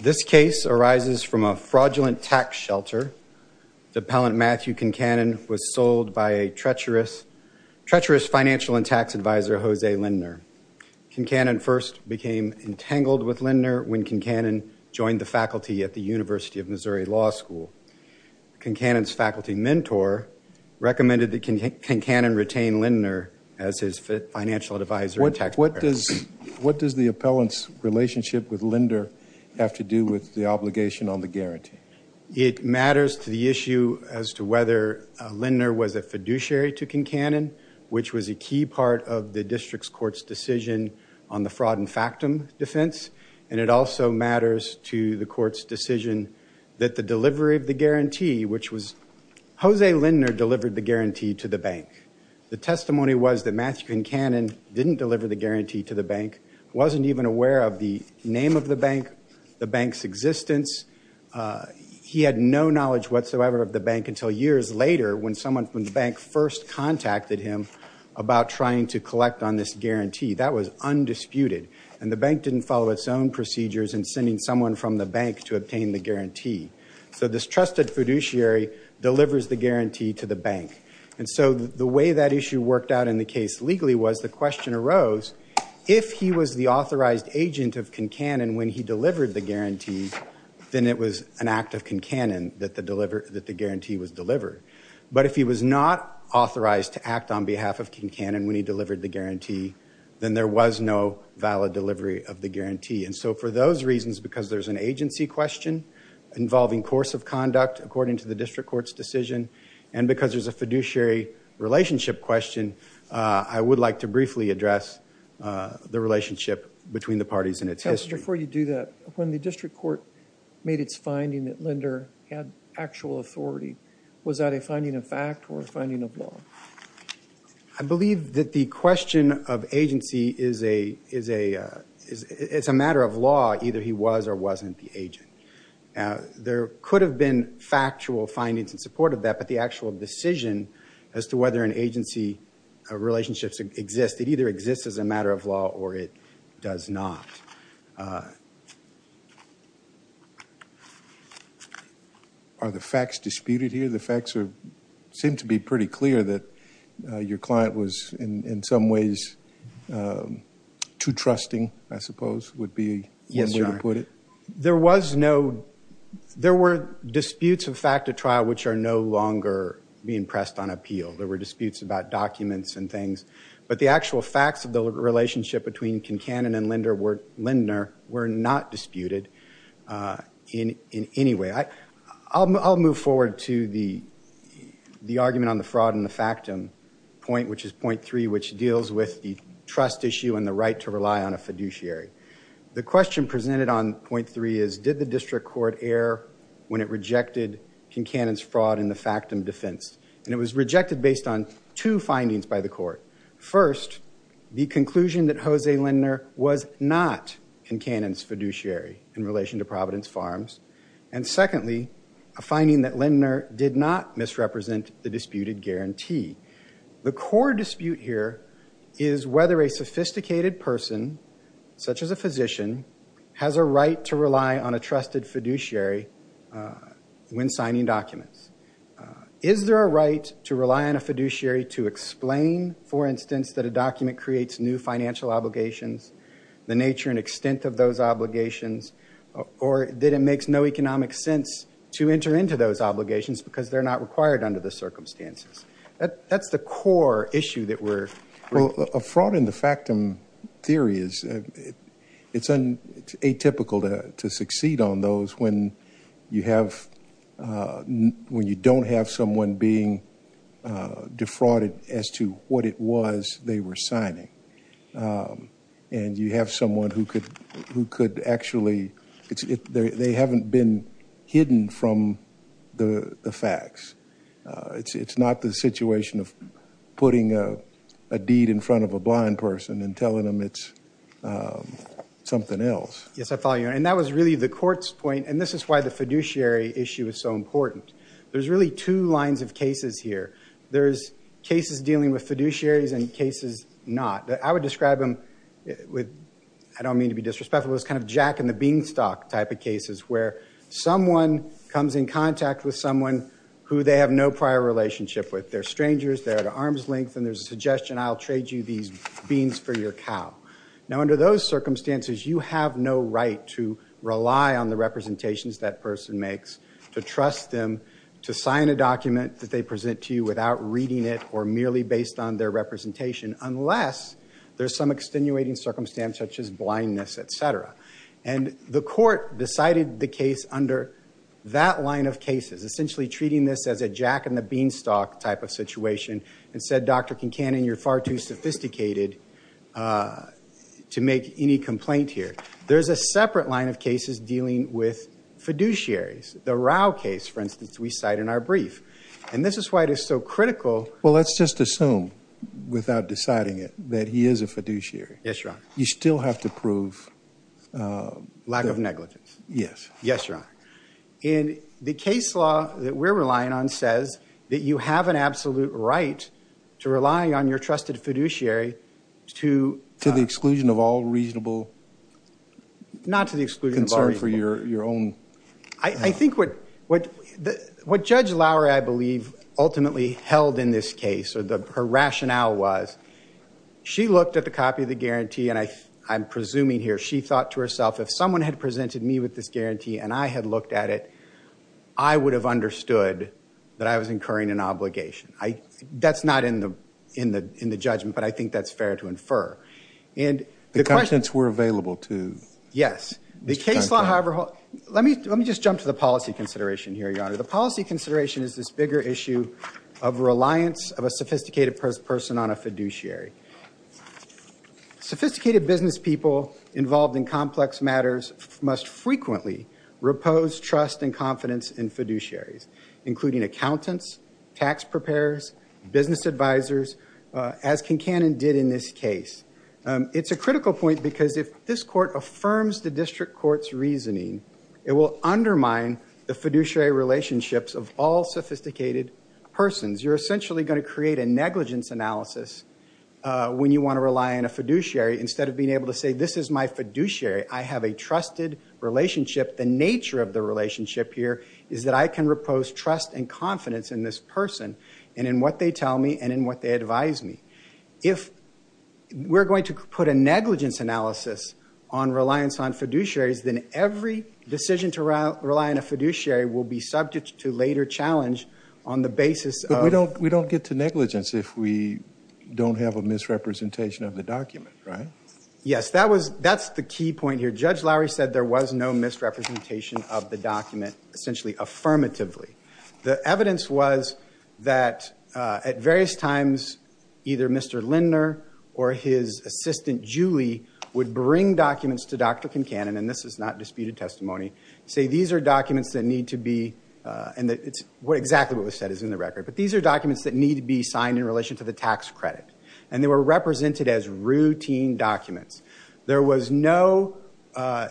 This case arises from a fraudulent tax shelter. Appellant Matthew Concannon was sold by a treacherous financial and tax advisor, Jose Lindner. Concannon first became entangled with Lindner when Concannon joined the faculty at the University of Missouri Law School. Concannon's faculty mentor recommended that Concannon retain Lindner as his financial advisor and tax advisor. What does the appellant's relationship with Lindner have to do with the obligation on the guarantee? It matters to the issue as to whether Lindner was a fiduciary to Concannon, which was a key part of the district's court's decision on the fraud and factum defense. And it also matters to the court's decision that the delivery of the guarantee, which was – Jose Lindner delivered the guarantee to the bank. The testimony was that Matthew Concannon didn't deliver the guarantee to the bank, wasn't even aware of the name of the bank, the bank's existence. He had no knowledge whatsoever of the bank until years later when someone from the bank first contacted him about trying to collect on this guarantee. That was undisputed. And the bank didn't follow its own procedures in sending someone from the bank to obtain the guarantee. So this trusted fiduciary delivers the guarantee to the bank. And so the way that issue worked out in the case legally was the question arose, if he was the authorized agent of Concannon when he delivered the guarantee, then it was an act of Concannon that the guarantee was delivered. But if he was not authorized to act on behalf of Concannon when he delivered the guarantee, then there was no valid delivery of the guarantee. And so for those reasons, because there's an agency question involving course of conduct, according to the district court's decision, and because there's a fiduciary relationship question, I would like to briefly address the relationship between the parties and its history. Before you do that, when the district court made its finding that Linder had actual authority, was that a finding of fact or a finding of law? I believe that the question of agency is a matter of law, either he was or wasn't the agent. There could have been factual findings in support of that, but the actual decision as to whether an agency relationship exists, it either exists as a matter of law or it does not. Are the facts disputed here? The facts seem to be pretty clear that your client was in some ways too trusting, I suppose, would be one way to put it. There were disputes of fact at trial which are no longer being pressed on appeal. There were disputes about documents and things, but the actual facts of the relationship between Concannon and Linder were not disputed in any way. I'll move forward to the argument on the fraud and the factum point, which is point three, which deals with the trust issue and the right to rely on a fiduciary. The question presented on point three is, did the district court err when it rejected Concannon's fraud in the factum defense? And it was rejected based on two findings by the court. First, the conclusion that Jose Linder was not Concannon's fiduciary in relation to Providence Farms. And secondly, a finding that Linder did not misrepresent the disputed guarantee. The core dispute here is whether a sophisticated person, such as a physician, has a right to rely on a trusted fiduciary when signing documents. Is there a right to rely on a fiduciary to explain, for instance, that a document creates new financial obligations, the nature and extent of those obligations, or that it makes no economic sense to enter into those obligations because they're not required under the circumstances? That's the core issue that we're— Well, a fraud in the factum theory is—it's atypical to succeed on those when you have— when you don't have someone being defrauded as to what it was they were signing. And you have someone who could actually—they haven't been hidden from the facts. It's not the situation of putting a deed in front of a blind person and telling them it's something else. Yes, I follow you. And that was really the court's point. And this is why the fiduciary issue is so important. There's really two lines of cases here. There's cases dealing with fiduciaries and cases not. I would describe them with—I don't mean to be disrespectful—it's kind of jack-in-the-beanstalk type of cases where someone comes in contact with someone who they have no prior relationship with. They're strangers. They're at arm's length. And there's a suggestion, I'll trade you these beans for your cow. Now, under those circumstances, you have no right to rely on the representations that person makes to trust them to sign a document that they present to you without reading it or merely based on their representation, unless there's some extenuating circumstance such as blindness, et cetera. And the court decided the case under that line of cases, essentially treating this as a jack-in-the-beanstalk type of situation, and said, Dr. Kincannon, you're far too sophisticated to make any complaint here. There's a separate line of cases dealing with fiduciaries. The Rao case, for instance, we cite in our brief. And this is why it is so critical— Well, let's just assume, without deciding it, that he is a fiduciary. Yes, Your Honor. You still have to prove— Lack of negligence. Yes. Yes, Your Honor. And the case law that we're relying on says that you have an absolute right to rely on your trusted fiduciary to— Not to the exclusion of our people. Concern for your own— I think what Judge Lowery, I believe, ultimately held in this case, or her rationale was, she looked at the copy of the guarantee, and I'm presuming here she thought to herself, if someone had presented me with this guarantee and I had looked at it, I would have understood that I was incurring an obligation. That's not in the judgment, but I think that's fair to infer. The contents were available to— Yes. The case law, however— Let me just jump to the policy consideration here, Your Honor. The policy consideration is this bigger issue of reliance of a sophisticated person on a fiduciary. Sophisticated business people involved in complex matters must frequently repose trust and confidence in fiduciaries, including accountants, tax preparers, business advisors, as Kincannon did in this case. It's a critical point because if this court affirms the district court's reasoning, it will undermine the fiduciary relationships of all sophisticated persons. You're essentially going to create a negligence analysis when you want to rely on a fiduciary. Instead of being able to say, this is my fiduciary, I have a trusted relationship, the nature of the relationship here is that I can repose trust and confidence in this person and in what they tell me and in what they advise me. If we're going to put a negligence analysis on reliance on fiduciaries, then every decision to rely on a fiduciary will be subject to later challenge on the basis of— But we don't get to negligence if we don't have a misrepresentation of the document, right? Yes, that's the key point here. Judge Lowry said there was no misrepresentation of the document, essentially affirmatively. The evidence was that at various times, either Mr. Lindner or his assistant, Julie, would bring documents to Dr. Kincannon, and this is not disputed testimony, say these are documents that need to be, and exactly what was said is in the record, but these are documents that need to be signed in relation to the tax credit, and they were represented as routine documents. There was no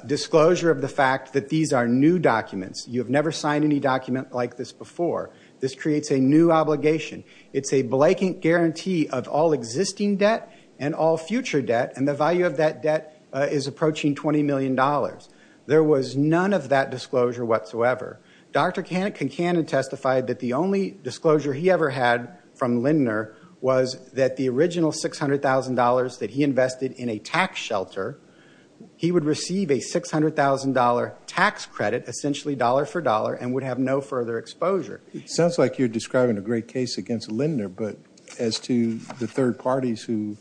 disclosure of the fact that these are new documents. You have never signed any document like this before. This creates a new obligation. It's a blanket guarantee of all existing debt and all future debt, and the value of that debt is approaching $20 million. There was none of that disclosure whatsoever. Dr. Kincannon testified that the only disclosure he ever had from Lindner was that the original $600,000 that he invested in a tax shelter, he would receive a $600,000 tax credit, essentially dollar for dollar, and would have no further exposure. It sounds like you're describing a great case against Lindner, but as to the third parties who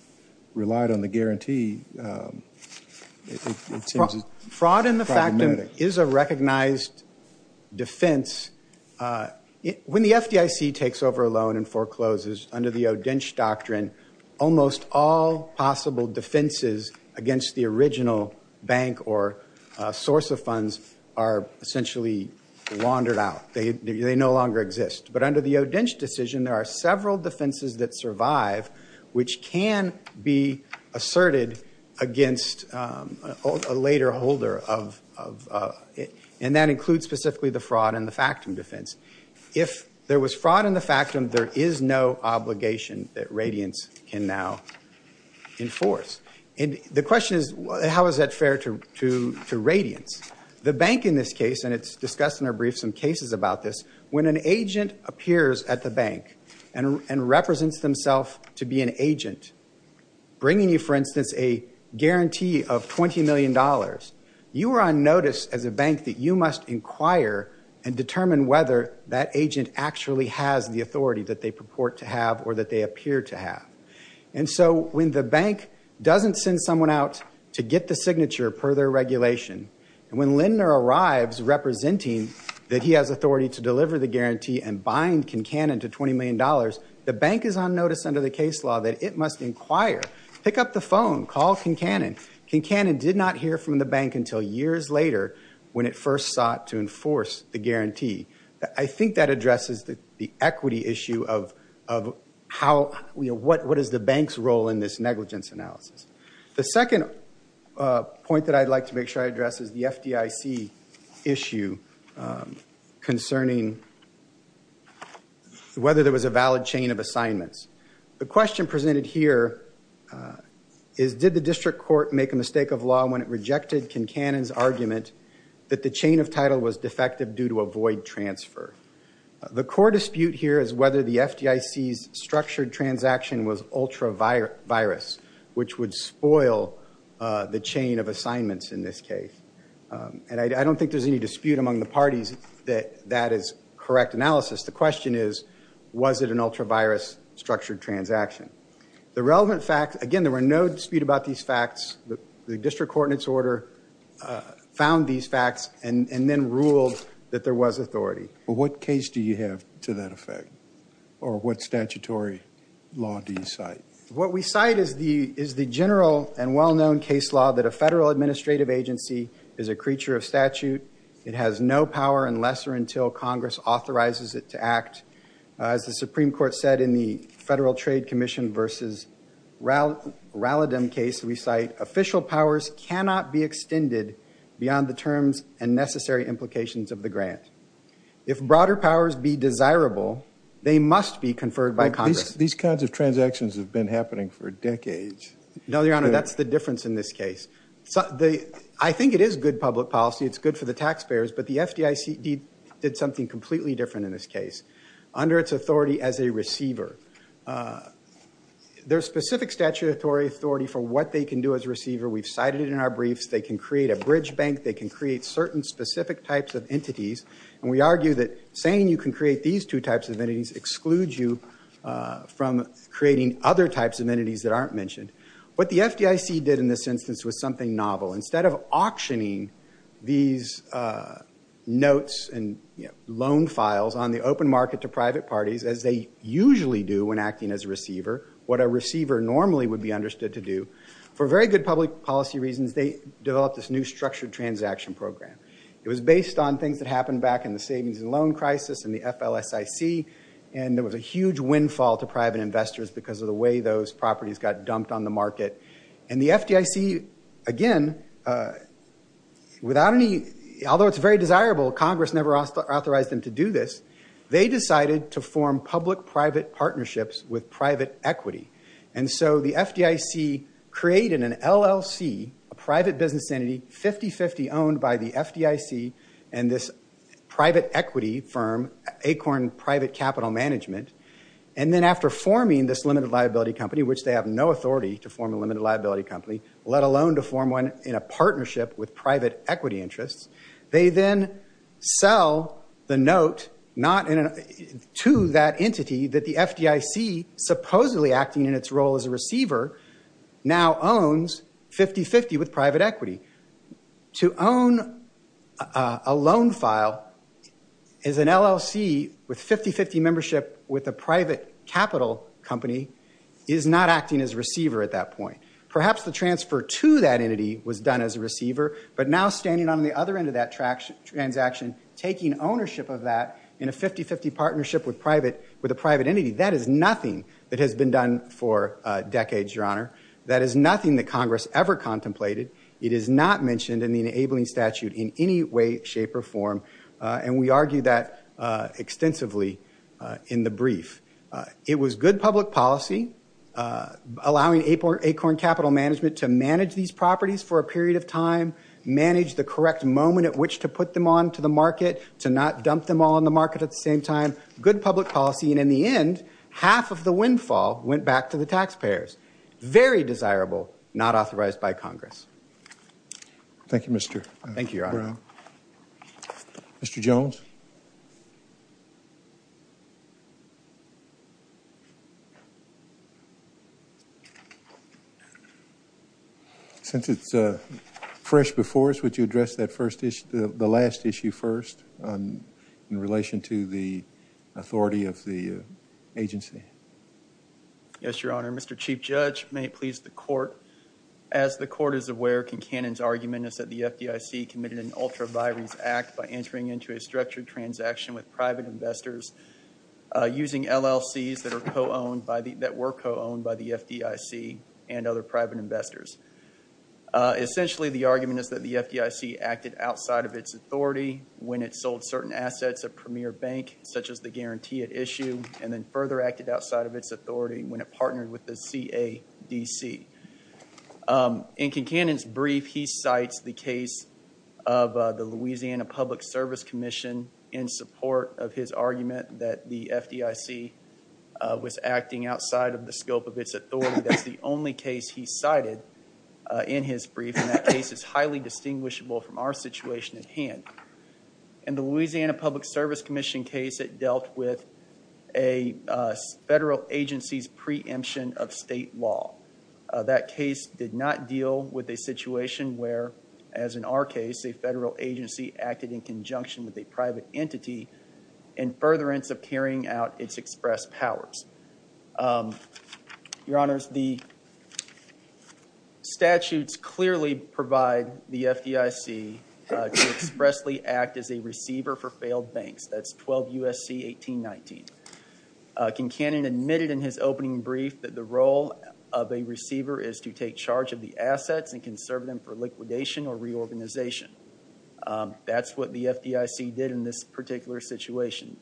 relied on the guarantee, it seems problematic. Fraud in the fact is a recognized defense. When the FDIC takes over a loan and forecloses under the O'Dentch Doctrine, almost all possible defenses against the original bank or source of funds are essentially laundered out. They no longer exist. But under the O'Dentch Decision, there are several defenses that survive which can be asserted against a later holder, and that includes specifically the fraud and the factum defense. If there was fraud in the factum, there is no obligation that Radiance can now enforce. The question is, how is that fair to Radiance? The bank in this case, and it's discussed in our brief some cases about this, when an agent appears at the bank and represents themself to be an agent, bringing you, for instance, a guarantee of $20 million, you are on notice as a bank that you must inquire and determine whether that agent actually has the authority that they purport to have or that they appear to have. And so when the bank doesn't send someone out to get the signature per their regulation, and when Lindner arrives representing that he has authority to deliver the guarantee and bind Kincannon to $20 million, the bank is on notice under the case law that it must inquire, pick up the phone, call Kincannon. Kincannon did not hear from the bank until years later when it first sought to enforce the guarantee. I think that addresses the equity issue of what is the bank's role in this negligence analysis. The second point that I'd like to make sure I address is the FDIC issue concerning whether there was a valid chain of assignments. The question presented here is, did the district court make a mistake of law when it rejected Kincannon's argument that the chain of title was defective due to a void transfer? The core dispute here is whether the FDIC's structured transaction was ultra-virus, which would spoil the chain of assignments in this case. And I don't think there's any dispute among the parties that that is correct analysis. The question is, was it an ultra-virus structured transaction? The relevant facts, again, there were no dispute about these facts. The district court in its order found these facts and then ruled that there was authority. What case do you have to that effect, or what statutory law do you cite? What we cite is the general and well-known case law that a federal administrative agency is a creature of statute. It has no power unless or until Congress authorizes it to act. As the Supreme Court said in the Federal Trade Commission v. Rallodom case, we cite official powers cannot be extended beyond the terms and necessary implications of the grant. If broader powers be desirable, they must be conferred by Congress. These kinds of transactions have been happening for decades. No, Your Honor, that's the difference in this case. I think it is good public policy. It's good for the taxpayers. But the FDIC did something completely different in this case. Under its authority as a receiver, there's specific statutory authority for what they can do as a receiver. We've cited it in our briefs. They can create certain specific types of entities. And we argue that saying you can create these two types of entities excludes you from creating other types of entities that aren't mentioned. What the FDIC did in this instance was something novel. Instead of auctioning these notes and loan files on the open market to private parties, as they usually do when acting as a receiver, what a receiver normally would be understood to do, for very good public policy reasons, they developed this new structured transaction program. It was based on things that happened back in the savings and loan crisis and the FLSIC. And there was a huge windfall to private investors because of the way those properties got dumped on the market. And the FDIC, again, without any, although it's very desirable, Congress never authorized them to do this. They decided to form public-private partnerships with private equity. And so the FDIC created an LLC, a private business entity, 50-50 owned by the FDIC and this private equity firm, Acorn Private Capital Management, and then after forming this limited liability company, which they have no authority to form a limited liability company, let alone to form one in a partnership with private equity interests, they then sell the note to that entity that the FDIC, supposedly acting in its role as a receiver, now owns 50-50 with private equity. To own a loan file as an LLC with 50-50 membership with a private capital company is not acting as a receiver at that point. Perhaps the transfer to that entity was done as a receiver, but now standing on the other end of that transaction, taking ownership of that in a 50-50 partnership with a private entity, that is nothing that has been done for decades, Your Honor. That is nothing that Congress ever contemplated. It is not mentioned in the enabling statute in any way, shape, or form. And we argue that extensively in the brief. It was good public policy, allowing Acorn Capital Management to manage these properties for a period of time, manage the correct moment at which to put them onto the market, to not dump them all on the market at the same time, good public policy, and in the end, half of the windfall went back to the taxpayers. Very desirable, not authorized by Congress. Thank you, Mr. Brown. Mr. Jones? Since it's fresh before us, would you address the last issue first in relation to the authority of the agency? Yes, Your Honor. Mr. Chief Judge, may it please the Court, As the Court is aware, Kincannon's argument is that the FDIC committed an ultra-virus act by entering into a structured transaction with private investors using LLCs that were co-owned by the FDIC and other private investors. Essentially, the argument is that the FDIC acted outside of its authority when it sold certain assets of Premier Bank, such as the guarantee at issue, and then further acted outside of its authority when it partnered with the CADC. In Kincannon's brief, he cites the case of the Louisiana Public Service Commission in support of his argument that the FDIC was acting outside of the scope of its authority. That's the only case he cited in his brief, and that case is highly distinguishable from our situation at hand. In the Louisiana Public Service Commission case, it dealt with a federal agency's preemption of state law. That case did not deal with a situation where, as in our case, a federal agency acted in conjunction with a private entity in furtherance of carrying out its express powers. Your Honors, the statutes clearly provide the FDIC to expressly act as a receiver for failed banks. That's 12 U.S.C. 1819. Kincannon admitted in his opening brief that the role of a receiver is to take charge of the assets and can serve them for liquidation or reorganization. That's what the FDIC did in this particular situation.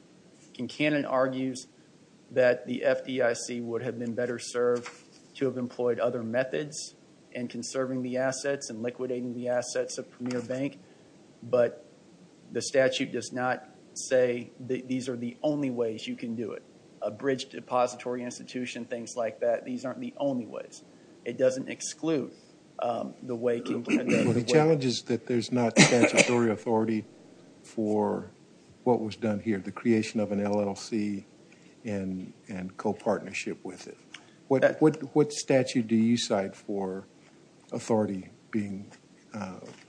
Kincannon argues that the FDIC would have been better served to have employed other methods in conserving the assets and liquidating the assets of Premier Bank, but the statute does not say that these are the only ways you can do it. A bridge depository institution, things like that, these aren't the only ways. It doesn't exclude the way— Well, the challenge is that there's not statutory authority for what was done here, the creation of an LLC and co-partnership with it. What statute do you cite for authority being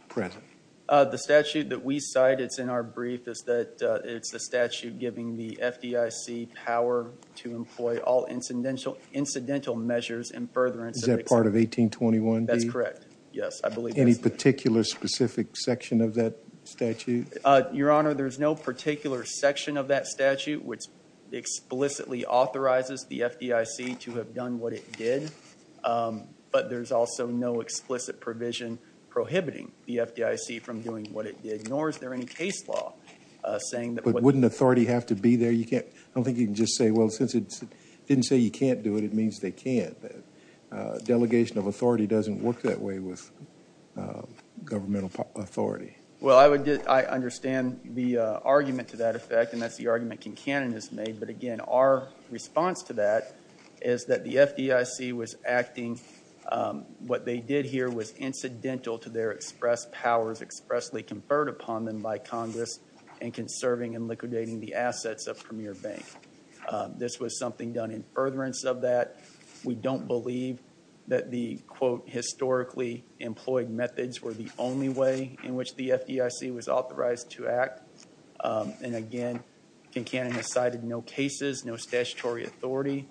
present? The statute that we cite that's in our brief is that it's the statute giving the FDIC power to employ all incidental measures in furtherance of— Is that part of 1821B? That's correct, yes. Any particular specific section of that statute? Your Honor, there's no particular section of that statute which explicitly authorizes the FDIC to have done what it did, but there's also no explicit provision prohibiting the FDIC from doing what it did, nor is there any case law saying that— But wouldn't authority have to be there? I don't think you can just say, well, since it didn't say you can't do it, it means they can't. Delegation of authority doesn't work that way with governmental authority. Well, I understand the argument to that effect, and that's the argument Kincannon has made, but again, our response to that is that the FDIC was acting— what they did here was incidental to their express powers expressly conferred upon them by Congress and conserving and liquidating the assets of Premier Bank. This was something done in furtherance of that. We don't believe that the, quote, historically employed methods were the only way in which the FDIC was authorized to act. And again, Kincannon has cited no cases, no statutory authority,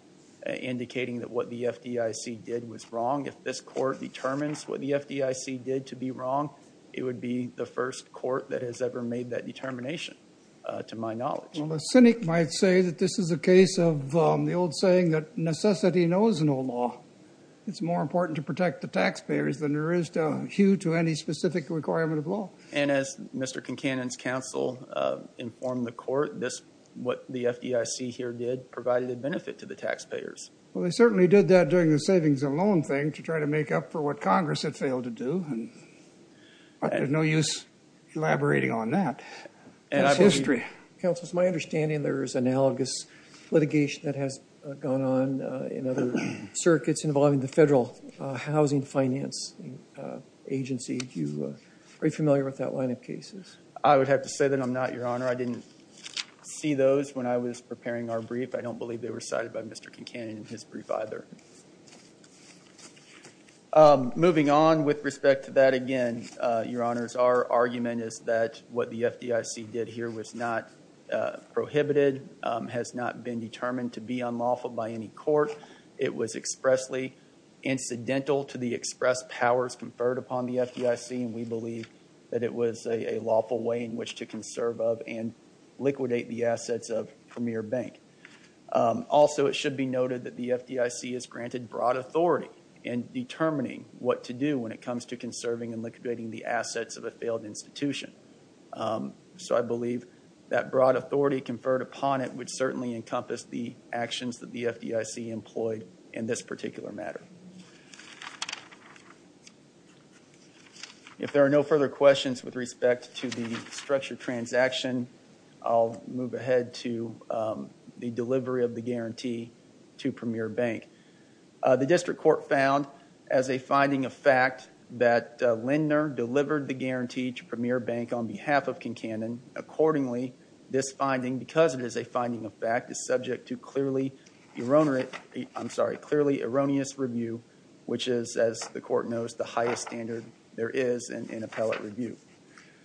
indicating that what the FDIC did was wrong. If this Court determines what the FDIC did to be wrong, it would be the first Court that has ever made that determination, to my knowledge. Well, a cynic might say that this is a case of the old saying that necessity knows no law. It's more important to protect the taxpayers than there is to hew to any specific requirement of law. And as Mr. Kincannon's counsel informed the Court, what the FDIC here did provided a benefit to the taxpayers. Well, they certainly did that during the savings and loan thing to try to make up for what Congress had failed to do, and there's no use elaborating on that. It's history. Counsel, it's my understanding there is analogous litigation that has gone on in other circuits involving the Federal Housing Finance Agency. Are you familiar with that line of cases? I would have to say that I'm not, Your Honor. I didn't see those when I was preparing our brief. I don't believe they were cited by Mr. Kincannon in his brief either. Moving on with respect to that again, Your Honors, our argument is that what the FDIC did here was not prohibited, has not been determined to be unlawful by any court. It was expressly incidental to the express powers conferred upon the FDIC, and we believe that it was a lawful way in which to conserve of and liquidate the assets of Premier Bank. Also, it should be noted that the FDIC is granted broad authority in determining what to do when it comes to conserving and liquidating the assets of a failed institution. So I believe that broad authority conferred upon it would certainly encompass the actions that the FDIC employed in this particular matter. If there are no further questions with respect to the structured transaction, I'll move ahead to the delivery of the guarantee to Premier Bank. The district court found as a finding of fact that Lindner delivered the guarantee to Premier Bank on behalf of Kincannon. Accordingly, this finding, because it is a finding of fact, is subject to clearly erroneous review, which is, as the court knows, the highest standard there is in appellate review.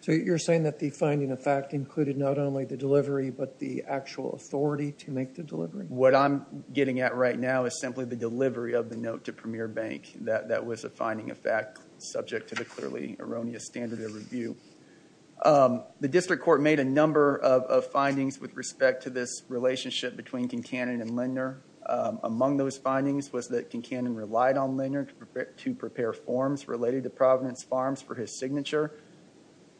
So you're saying that the finding of fact included not only the delivery, but the actual authority to make the delivery? What I'm getting at right now is simply the delivery of the note to Premier Bank. That was a finding of fact subject to the clearly erroneous standard of review. The district court made a number of findings with respect to this relationship between Kincannon and Lindner. Among those findings was that Kincannon relied on Lindner to prepare forms related to Providence Farms for his signature.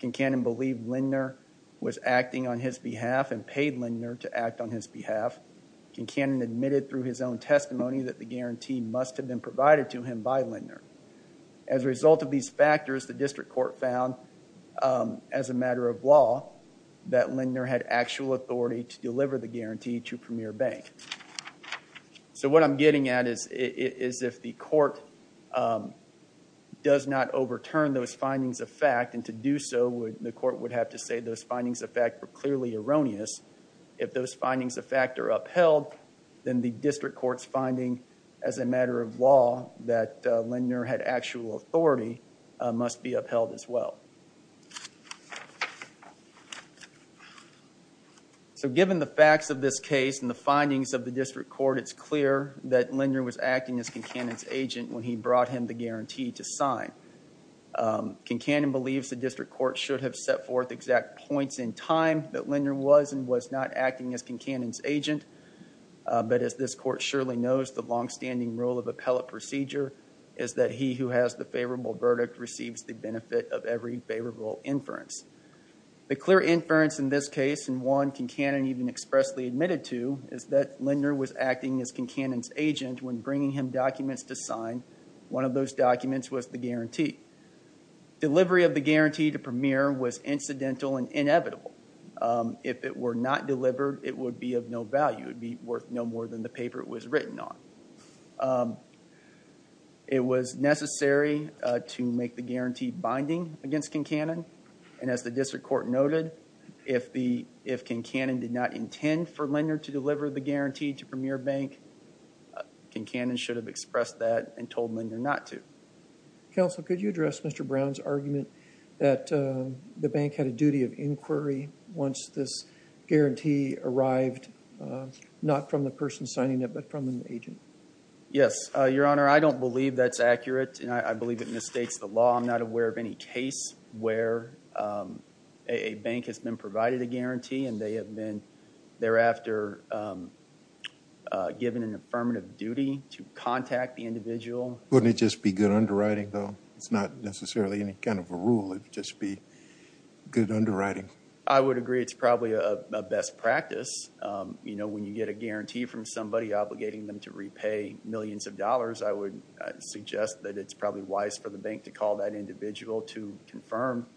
Kincannon believed Lindner was acting on his behalf and paid Lindner to act on his behalf. Kincannon admitted through his own testimony that the guarantee must have been provided to him by Lindner. As a result of these factors, the district court found, as a matter of law, that Lindner had actual authority to deliver the guarantee to Premier Bank. So what I'm getting at is if the court does not overturn those findings of fact, and to do so the court would have to say those findings of fact were clearly erroneous, if those findings of fact are upheld, then the district court's finding, as a matter of law, that Lindner had actual authority must be upheld as well. So given the facts of this case and the findings of the district court, it's clear that Lindner was acting as Kincannon's agent when he brought him the guarantee to sign. Kincannon believes the district court should have set forth exact points in time that Lindner was and was not acting as Kincannon's agent. But as this court surely knows, the long-standing rule of appellate procedure is that he who has the favorable verdict receives the benefit of every favorable inference. The clear inference in this case, and one Kincannon even expressly admitted to, is that Lindner was acting as Kincannon's agent when bringing him documents to sign. One of those documents was the guarantee. Delivery of the guarantee to Premier was incidental and inevitable. If it were not delivered, it would be of no value. It would be worth no more than the paper it was written on. It was necessary to make the guarantee binding against Kincannon, and as the district court noted, if Kincannon did not intend for Lindner to deliver the guarantee to Premier Bank, Kincannon should have expressed that and told Lindner not to. Counsel, could you address Mr. Brown's argument that the bank had a duty of inquiry once this guarantee arrived not from the person signing it but from an agent? Yes, Your Honor. I don't believe that's accurate, and I believe it mistakes the law. I'm not aware of any case where a bank has been provided a guarantee and they have been thereafter given an affirmative duty to contact the individual. Wouldn't it just be good underwriting, though? It's not necessarily any kind of a rule. It would just be good underwriting. I would agree it's probably a best practice. You know, when you get a guarantee from somebody obligating them to repay millions of dollars, I would suggest that it's probably wise for the bank to call that individual to confirm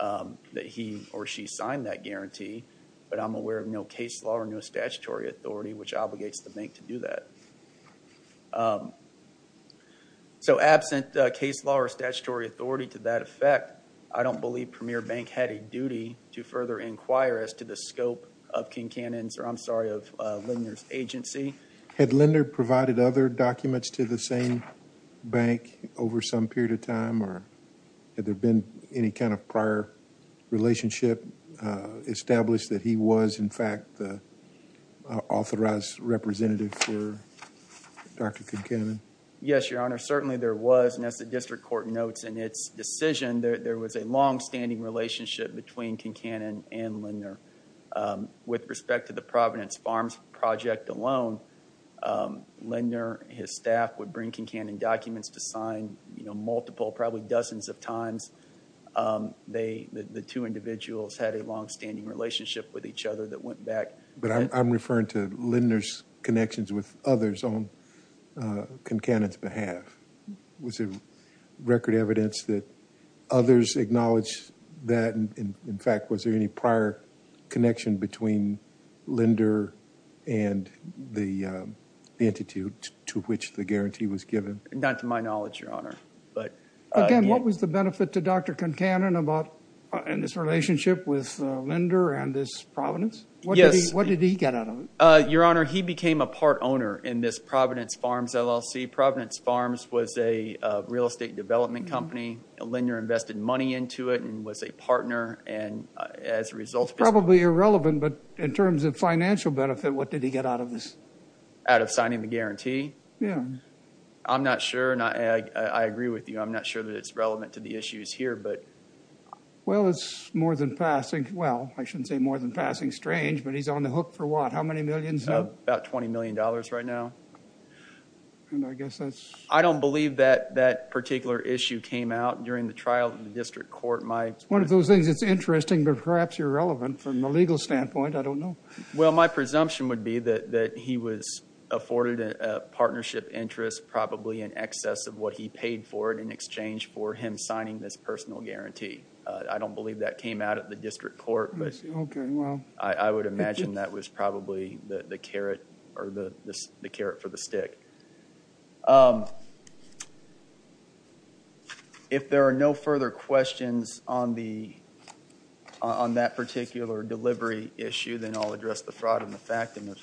that he or she signed that guarantee, but I'm aware of no case law or no statutory authority which obligates the bank to do that. So absent case law or statutory authority to that effect, I don't believe Premier Bank had a duty to further inquire as to the scope of Kincannon's, or I'm sorry, of Lindner's agency. Had Lindner provided other documents to the same bank over some period of time, or had there been any kind of prior relationship established that he was, in fact, the authorized representative for Dr. Kincannon? Yes, Your Honor. Certainly there was, and as the district court notes in its decision, there was a longstanding relationship between Kincannon and Lindner. With respect to the Providence Farms project alone, Lindner, his staff, would bring Kincannon documents to sign multiple, probably dozens of times. The two individuals had a longstanding relationship with each other that went back. But I'm referring to Lindner's connections with others on Kincannon's behalf. Was there record evidence that others acknowledged that? In fact, was there any prior connection between Lindner and the entity to which the guarantee was given? Not to my knowledge, Your Honor. Again, what was the benefit to Dr. Kincannon in this relationship with Lindner and this Providence? Yes. What did he get out of it? Your Honor, he became a part owner in this Providence Farms LLC. Providence Farms was a real estate development company. Lindner invested money into it and was a partner, and as a result, Probably irrelevant, but in terms of financial benefit, what did he get out of this? Out of signing the guarantee? Yeah. I'm not sure. I agree with you. I'm not sure that it's relevant to the issues here, but. Well, it's more than passing. Well, I shouldn't say more than passing. Strange, but he's on the hook for what? How many millions now? About $20 million right now. And I guess that's... I don't believe that that particular issue came out during the trial in the district court. It's one of those things that's interesting, but perhaps irrelevant from a legal standpoint. I don't know. Well, my presumption would be that he was afforded a partnership interest, Probably in excess of what he paid for it in exchange for him signing this personal guarantee. I don't believe that came out of the district court. I see. Okay, well. I would imagine that was probably the carrot for the stick. If there are no further questions on that particular delivery issue, then I'll address the fraud and the factum, if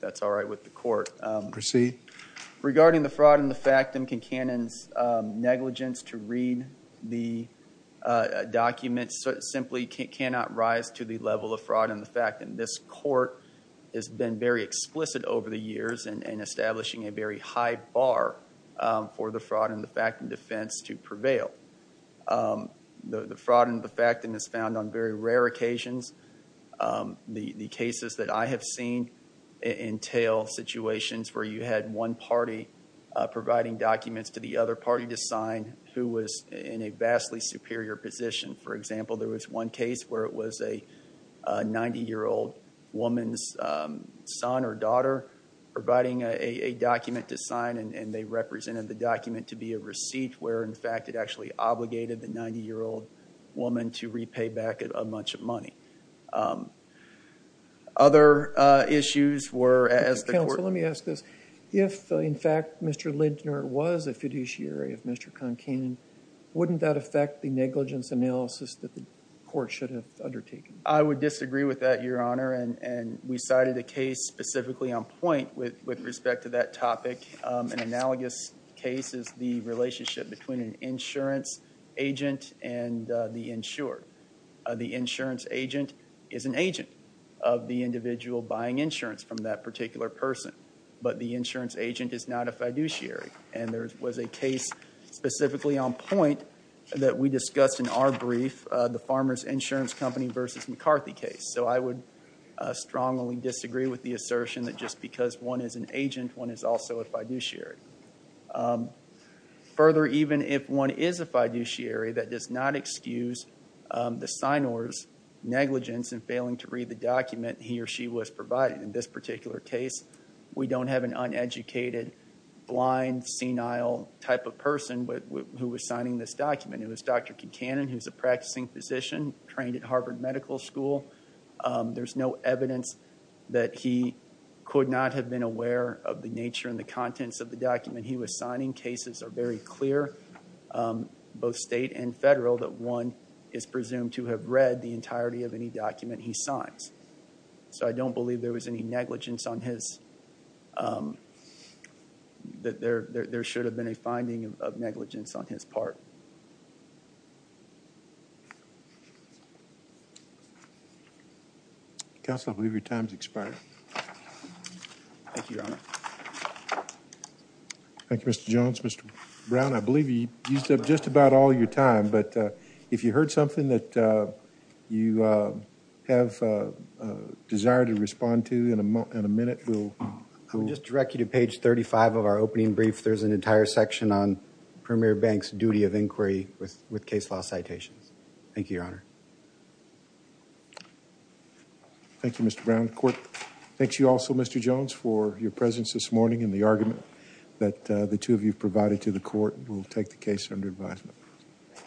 that's all right with the court. Proceed. Regarding the fraud and the factum, Duncan Cannon's negligence to read the documents simply cannot rise to the level of fraud and the factum. This court has been very explicit over the years in establishing a very high bar for the fraud and the factum defense to prevail. The fraud and the factum is found on very rare occasions. The cases that I have seen entail situations where you had one party providing documents to the other party to sign who was in a vastly superior position. For example, there was one case where it was a 90-year-old woman's son or daughter providing a document to sign, and they represented the document to be a receipt where, in fact, it actually obligated the 90-year-old woman to repay back a bunch of money. Other issues were, as the court- Counsel, let me ask this. If, in fact, Mr. Lindner was a fiduciary of Mr. Concannon, wouldn't that affect the negligence analysis that the court should have undertaken? I would disagree with that, Your Honor, and we cited a case specifically on point with respect to that topic. An analogous case is the relationship between an insurance agent and the insured. The insurance agent is an agent of the individual buying insurance from that particular person, but the insurance agent is not a fiduciary, and there was a case specifically on point that we discussed in our brief, the Farmer's Insurance Company v. McCarthy case. So I would strongly disagree with the assertion that just because one is an agent, one is also a fiduciary. Further, even if one is a fiduciary, that does not excuse the signer's negligence in failing to read the document he or she was provided. In this particular case, we don't have an uneducated, blind, senile type of person who was signing this document. It was Dr. Concannon, who's a practicing physician trained at Harvard Medical School. There's no evidence that he could not have been aware of the nature and the contents of the document he was signing. Cases are very clear, both state and federal, that one is presumed to have read the entirety of any document he signs. So I don't believe there was any negligence on his – that there should have been a finding of negligence on his part. Counsel, I believe your time's expired. Thank you, Your Honor. Thank you, Mr. Jones. Mr. Brown, I believe you used up just about all your time, but if you heard something that you have a desire to respond to in a minute, we'll – I would just direct you to page 35 of our opening brief. There's an entire section on Premier Bank's duty of inquiry with case law citations. Thank you, Your Honor. Thank you, Mr. Brown. The court thanks you also, Mr. Jones, for your presence this morning and the argument that the two of you provided to the court. We'll take the case under advisement.